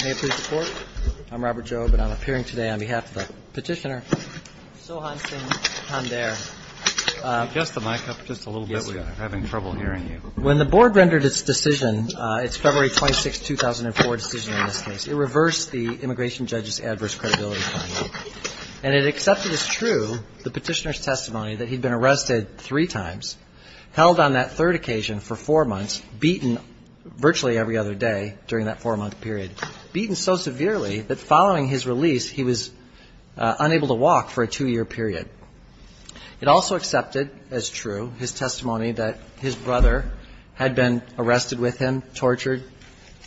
May it please the Court, I'm Robert Jobe and I'm appearing today on behalf of the petitioner, Sohansin Pandare. Could you adjust the mic up just a little bit? We're having trouble hearing you. When the board rendered its decision, its February 26, 2004 decision in this case, it reversed the immigration judge's adverse credibility finding. And it accepted as true the petitioner's occasion for four months, beaten virtually every other day during that four-month period. Beaten so severely that following his release, he was unable to walk for a two-year period. It also accepted as true his testimony that his brother had been arrested with him, tortured,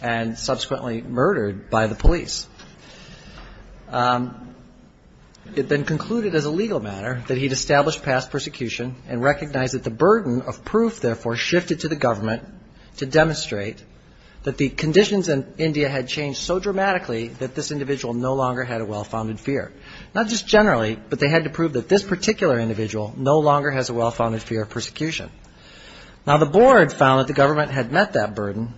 and subsequently murdered by the police. It then concluded as a legal matter that he'd established past persecution and recognized that the burden of proof, therefore, shifted to the government to demonstrate that the conditions in India had changed so dramatically that this individual no longer had a well-founded fear. Not just generally, but they had to prove that this particular individual no longer has a well-founded fear of persecution. Now, the board found that the government had met that burden,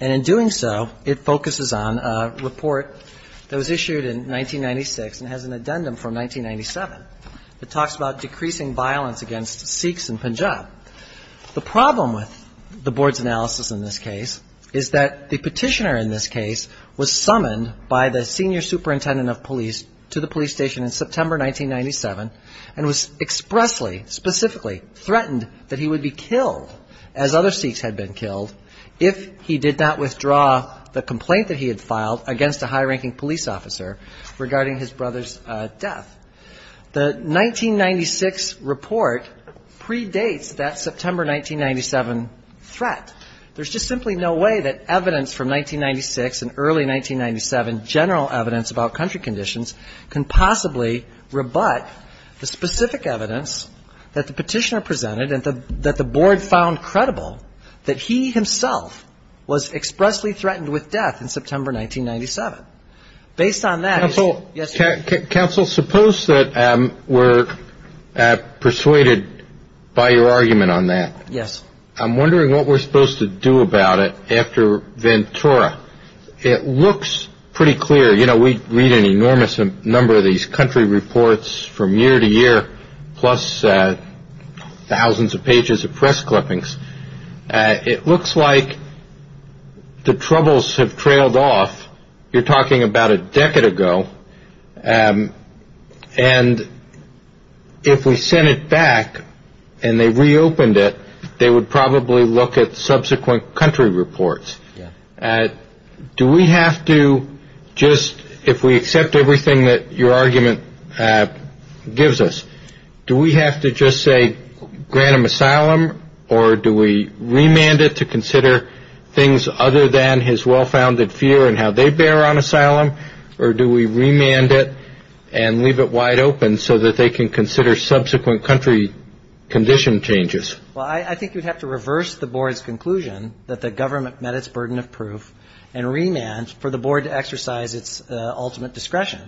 and in doing so, it focuses on a report that was issued in 1997 that talks about decreasing violence against Sikhs in Punjab. The problem with the board's analysis in this case is that the petitioner in this case was summoned by the senior superintendent of police to the police station in September 1997 and was expressly, specifically threatened that he would be killed, as other Sikhs had been killed, if he did not withdraw the complaint that he had filed against a high-ranking police officer regarding his brother's death. The 1996 report predates that September 1997 threat. There's just simply no way that evidence from 1996 and early 1997 general evidence about country conditions can possibly rebut the specific evidence that the petitioner presented and that the board found credible that he himself was expressly threatened with death in September 1997. Based on that, he's now in a position where he can't be held accountable for his actions. Now, I'm wondering what we're supposed to do about it after Ventura. It looks pretty clear. You know, we read an enormous number of these country reports from year to year, plus thousands of pages of press clippings. It looks like the troubles have trailed off. You're talking about a decade ago. And if we sent it back and they reopened it, they would probably look at subsequent country reports. Do we have to just, if we accept everything that your argument gives us, do we have to just say, grant him asylum, or do we remand it and leave it wide open so that they can consider subsequent country condition changes? Well, I think you'd have to reverse the board's conclusion that the government met its burden of proof and remand for the board to exercise its ultimate discretion.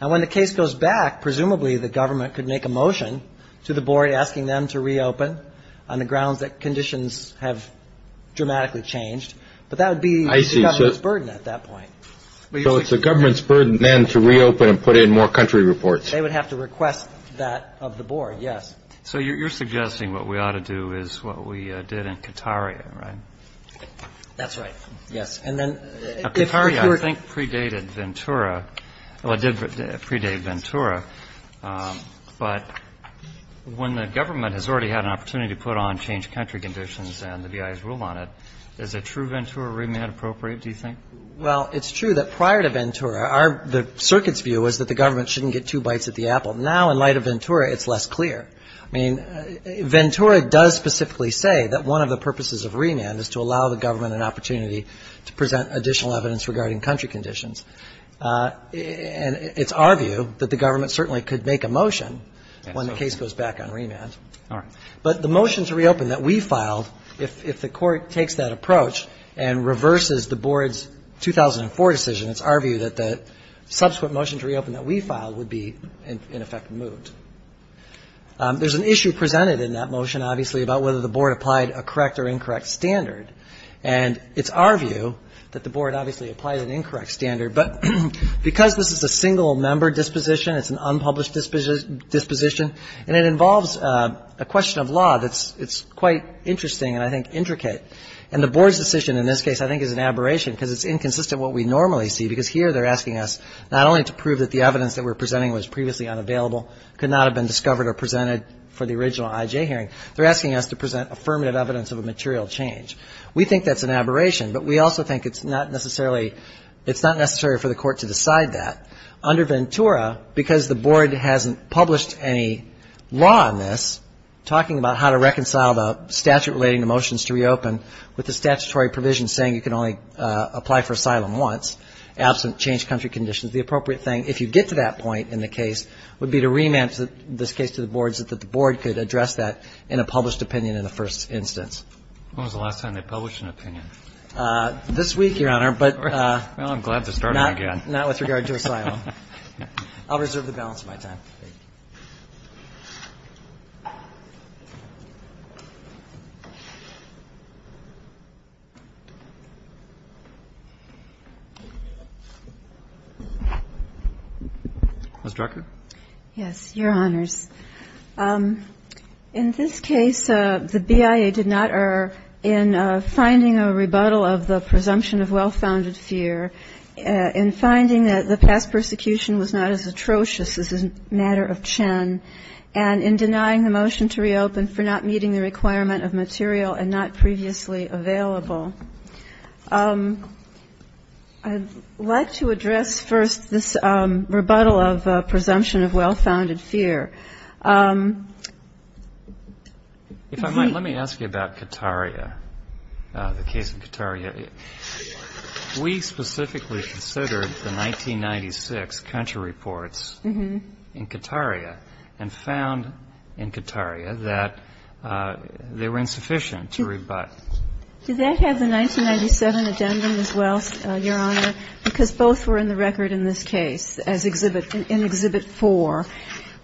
Now, when the case goes back, presumably the government could make a motion to the board asking them to reopen on the grounds that conditions have dramatically changed. But that would be the government's burden at that point. So it's the government's burden then to reopen and put in more country reports. They would have to request that of the board, yes. So you're suggesting what we ought to do is what we did in Qatari, right? That's right. Yes. And then if you were Qatari, I think, predated Ventura. Well, it did predate Ventura. But when the government has already had an opportunity to put on changed country conditions and the BIA's rule on it, is a true Ventura remand appropriate, do you think? Well, it's true that prior to Ventura, the circuit's view was that the government shouldn't get two bites at the apple. Now, in light of Ventura, it's less clear. I mean, Ventura does specifically say that one of the purposes of remand is to allow the government an opportunity to present additional evidence regarding country conditions. And it's our view that the government certainly could make a motion when the case goes back on remand. All right. But the motion to reopen that we filed, if the Court takes that approach and reverses the board's 2004 decision, it's our view that the subsequent motion to reopen that we filed would be, in effect, removed. There's an issue presented in that motion, obviously, about whether the board applied a correct or incorrect standard. And it's our view that the board obviously applied an incorrect standard. But because this is a single-member disposition, it's an unpublished disposition, and it involves a question of law that's quite interesting and, I think, intricate. And the board's decision in this case, I think, is an aberration, because it's inconsistent what we normally see, because here they're asking us not only to prove that the evidence that we're presenting was previously unavailable, could not have been discovered or presented for the original IJ hearing, they're asking us to present affirmative evidence of a material change. We think that's an aberration, but we also think it's not necessarily for the Court to decide that. Under Ventura, because the board hasn't published any law on this, talking about how to reconcile the statute relating to motions to reopen with the statutory provision saying you can only apply for asylum once, absent changed country conditions, the appropriate thing, if you get to that point in the case, would be to remand this case to the board so that the board could address that in a published opinion in the first instance. This week, Your Honor, but not with regard to asylum. I'll reserve the balance of my time. Ms. Drucker? Yes, Your Honors. In this case, the BIA did not err in finding a rebuttal of the presumption of well-founded fear, in finding that the past persecution was not as atrocious as the matter of Chen, and in denying the motion to reopen for not meeting the requirement of material and not previously available. I'd like to address first this rebuttal of presumption of well-founded fear. If I might, let me ask you about Qataria, the case in Qataria. We specifically considered the 1996 country reports in Qataria and found in Qataria that they were insufficient to rebut. Does that have the 1997 addendum as well, Your Honor? Because both were in the record in this case, as exhibit, in Exhibit 4.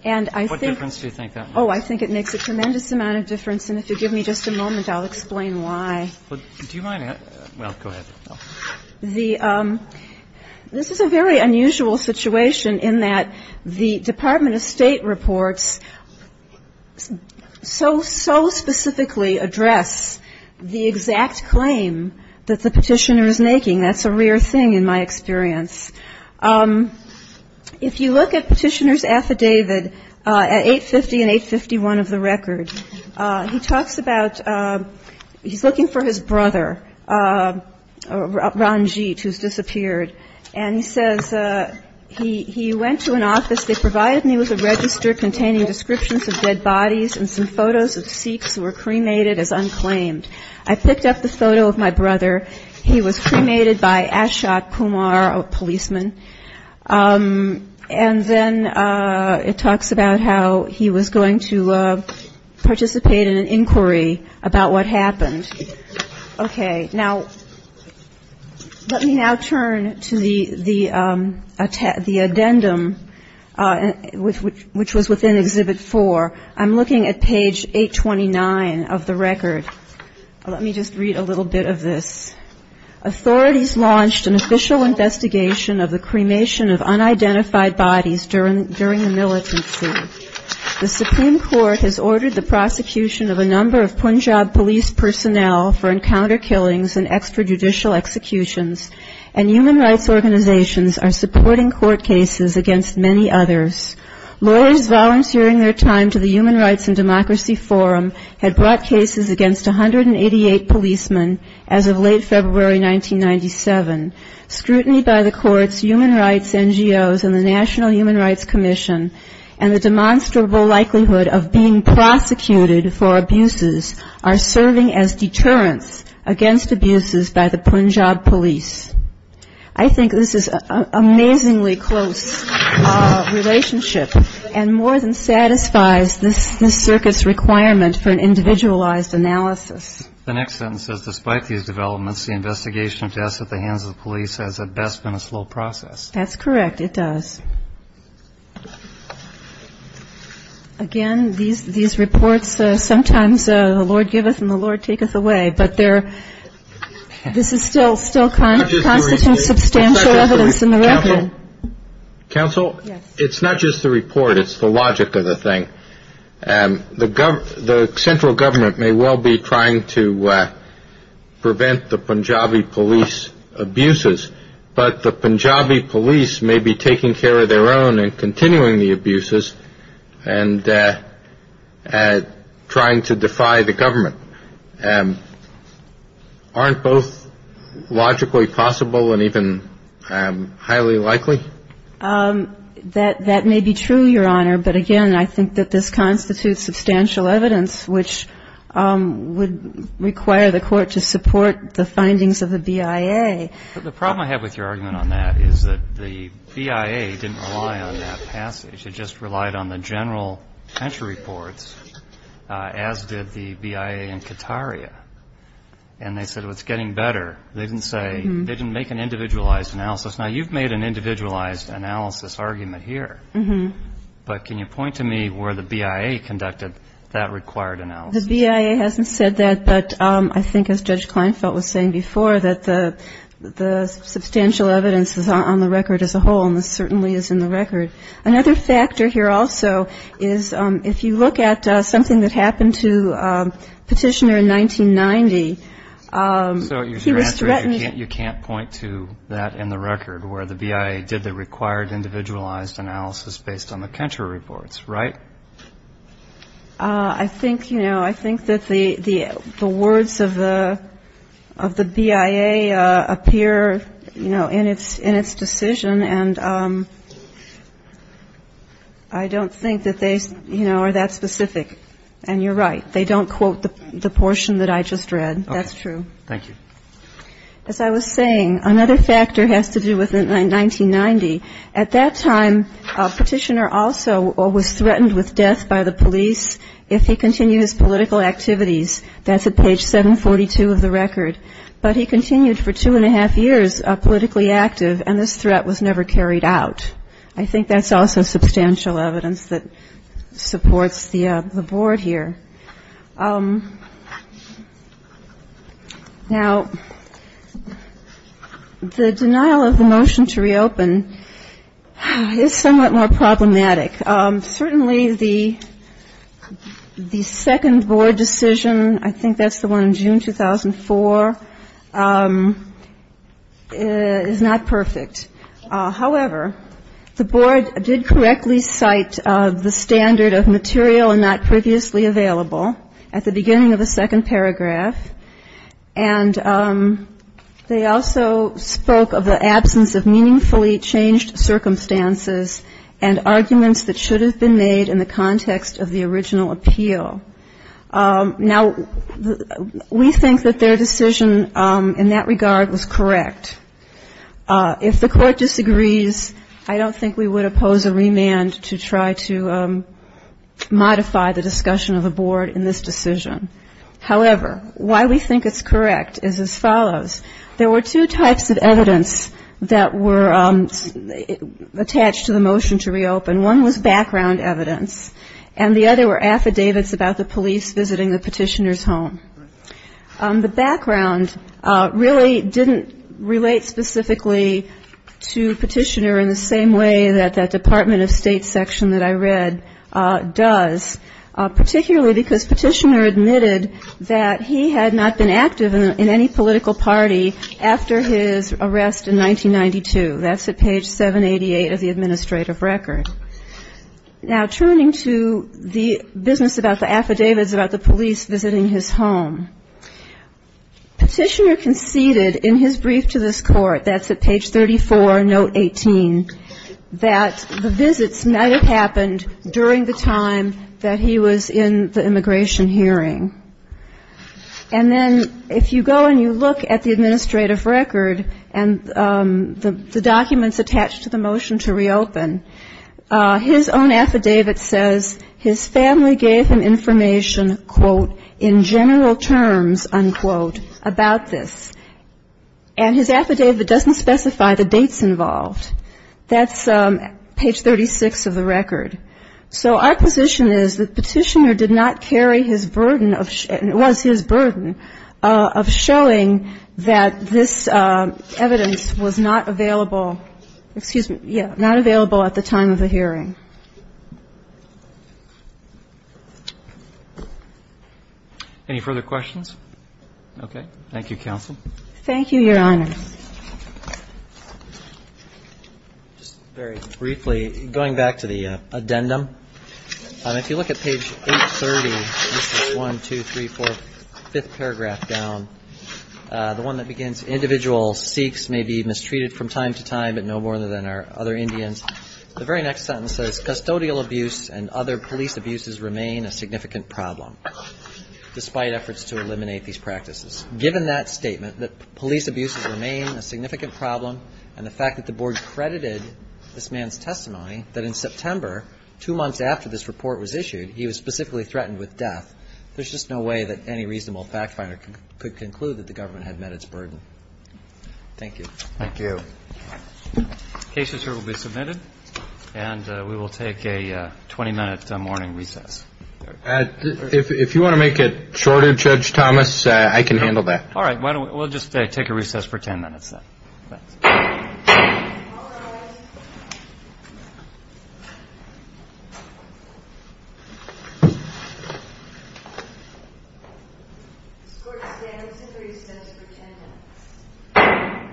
And I think What difference do you think that makes? Oh, I think it makes a tremendous amount of difference, and if you'll give me just a moment, I'll explain why. Do you mind? Well, go ahead. This is a very unusual situation in that the Department of State reports so, so specifically address the exact claim that the Petitioner is making. That's a rare thing in my experience. If you look at Petitioner's affidavit at 850 and 851 of the record, he talks about he's looking for his brother, Ranjit, who's disappeared. And he says he went to an office. They provided me with a register containing descriptions of dead bodies and some photos of Sikhs who were cremated as unclaimed. I picked up the photo of my brother. He was cremated by Ashok Kumar, a policeman. And then it talks about how he was going to participate in an inquiry about what happened. Okay. Now, let me now turn to the addendum, which was within Exhibit 4. I'm looking at page 829 of the record. Let me just read a little bit of this. I think this is an amazingly close relationship and more than satisfies this circuit's requirement for an individualized analysis. The next sentence says, Despite these developments, the investigation of deaths at the hands of the police has at best been a slow process. That's correct, it does. Again, these reports, sometimes the Lord giveth and the Lord taketh away. But this is still constituting substantial evidence in the record. Counsel, it's not just the report. It's the logic of the thing. The central government may well be trying to prevent the Punjabi police abuses, but the Punjabi police may be taking care of their own and continuing the abuses and trying to defy the government. Aren't both logically possible and even highly likely? That may be true, Your Honor, but again, I think that this constitutes substantial evidence which would require the Court to support the findings of the BIA. But the problem I have with your argument on that is that the BIA didn't rely on that passage. It just relied on the general entry reports, as did the BIA in Qataria. And they said, well, it's getting better. They didn't say they didn't make an individualized analysis. Now, you've made an individualized analysis argument here, but can you point to me where the BIA conducted that required analysis? The BIA hasn't said that, but I think, as Judge Kleinfeld was saying before, that the substantial evidence is on the record as a whole, and this certainly is in the record. Another factor here also is if you look at something that happened to Petitioner in 1990, he was threatened. You can't point to that in the record where the BIA did the required individualized analysis based on the country reports, right? I think, you know, I think that the words of the BIA appear, you know, in its decision, and I don't think that they, you know, are that specific. And you're right. They don't quote the portion that I just read. That's true. Thank you. As I was saying, another factor has to do with 1990. At that time, Petitioner also was threatened with death by the police if he continued his political activities. That's at page 742 of the record. But he continued for two and a half years politically active, and this threat was never carried out. I think that's also substantial evidence that supports the board here. Now, the denial of the motion to reopen is somewhat more problematic. Certainly the second board decision, I think that's the one in June 2004, is not perfect. However, the board did correctly cite the standard of material and not previously available at the beginning of the second paragraph. And they also spoke of the absence of meaningfully changed circumstances and arguments that should have been made in the context of the original appeal. Now, we think that their decision in that regard was correct. If the court disagrees, I don't think we would oppose a remand to try to modify the discussion of the board in this decision. However, why we think it's correct is as follows. There were two types of evidence that were attached to the motion to reopen. One was background evidence, and the other were affidavits about the police visiting the Petitioner's home. The background really didn't relate specifically to Petitioner in the same way that that Department of State section that I read does, particularly because Petitioner admitted that he had not been active in any political party after his arrest in 1992. That's at page 788 of the administrative record. Now, turning to the business about the affidavits about the police visiting his home, Petitioner conceded in his brief to this court, that's at page 34, note 18, that the visits might have happened during the time that he was in the immigration hearing. And then if you go and you look at the administrative record and the documents attached to the motion to reopen, his own affidavit says his family gave him information, quote, in general terms, unquote, about this. And his affidavit doesn't specify the dates involved. That's page 36 of the record. So our position is that Petitioner did not carry his burden, and it was his burden, of showing that this evidence was not available, excuse me, yeah, not available at the time of the hearing. Any further questions? Okay. Thank you, counsel. Thank you, Your Honor. Just very briefly, going back to the addendum, if you look at page 830, this is one, two, three, four, fifth paragraph down, the one that begins, individual Sikhs may be mistreated from time to time, but no more than our other Indians. The very next sentence says, custodial abuse and other police abuses remain a significant problem, despite efforts to eliminate these practices. Given that statement, that police abuses remain a significant problem, and the fact that the board credited this man's testimony, that in September, two months after this report was issued, he was specifically threatened with death, there's just no way that any reasonable fact finder could conclude that the government had met its burden. Thank you. Thank you. Cases here will be submitted, and we will take a 20-minute morning recess. If you want to make it shorter, Judge Thomas, I can handle that. All right. We'll just take a recess for 10 minutes, then. All rise. The court stands to recess for 10 minutes.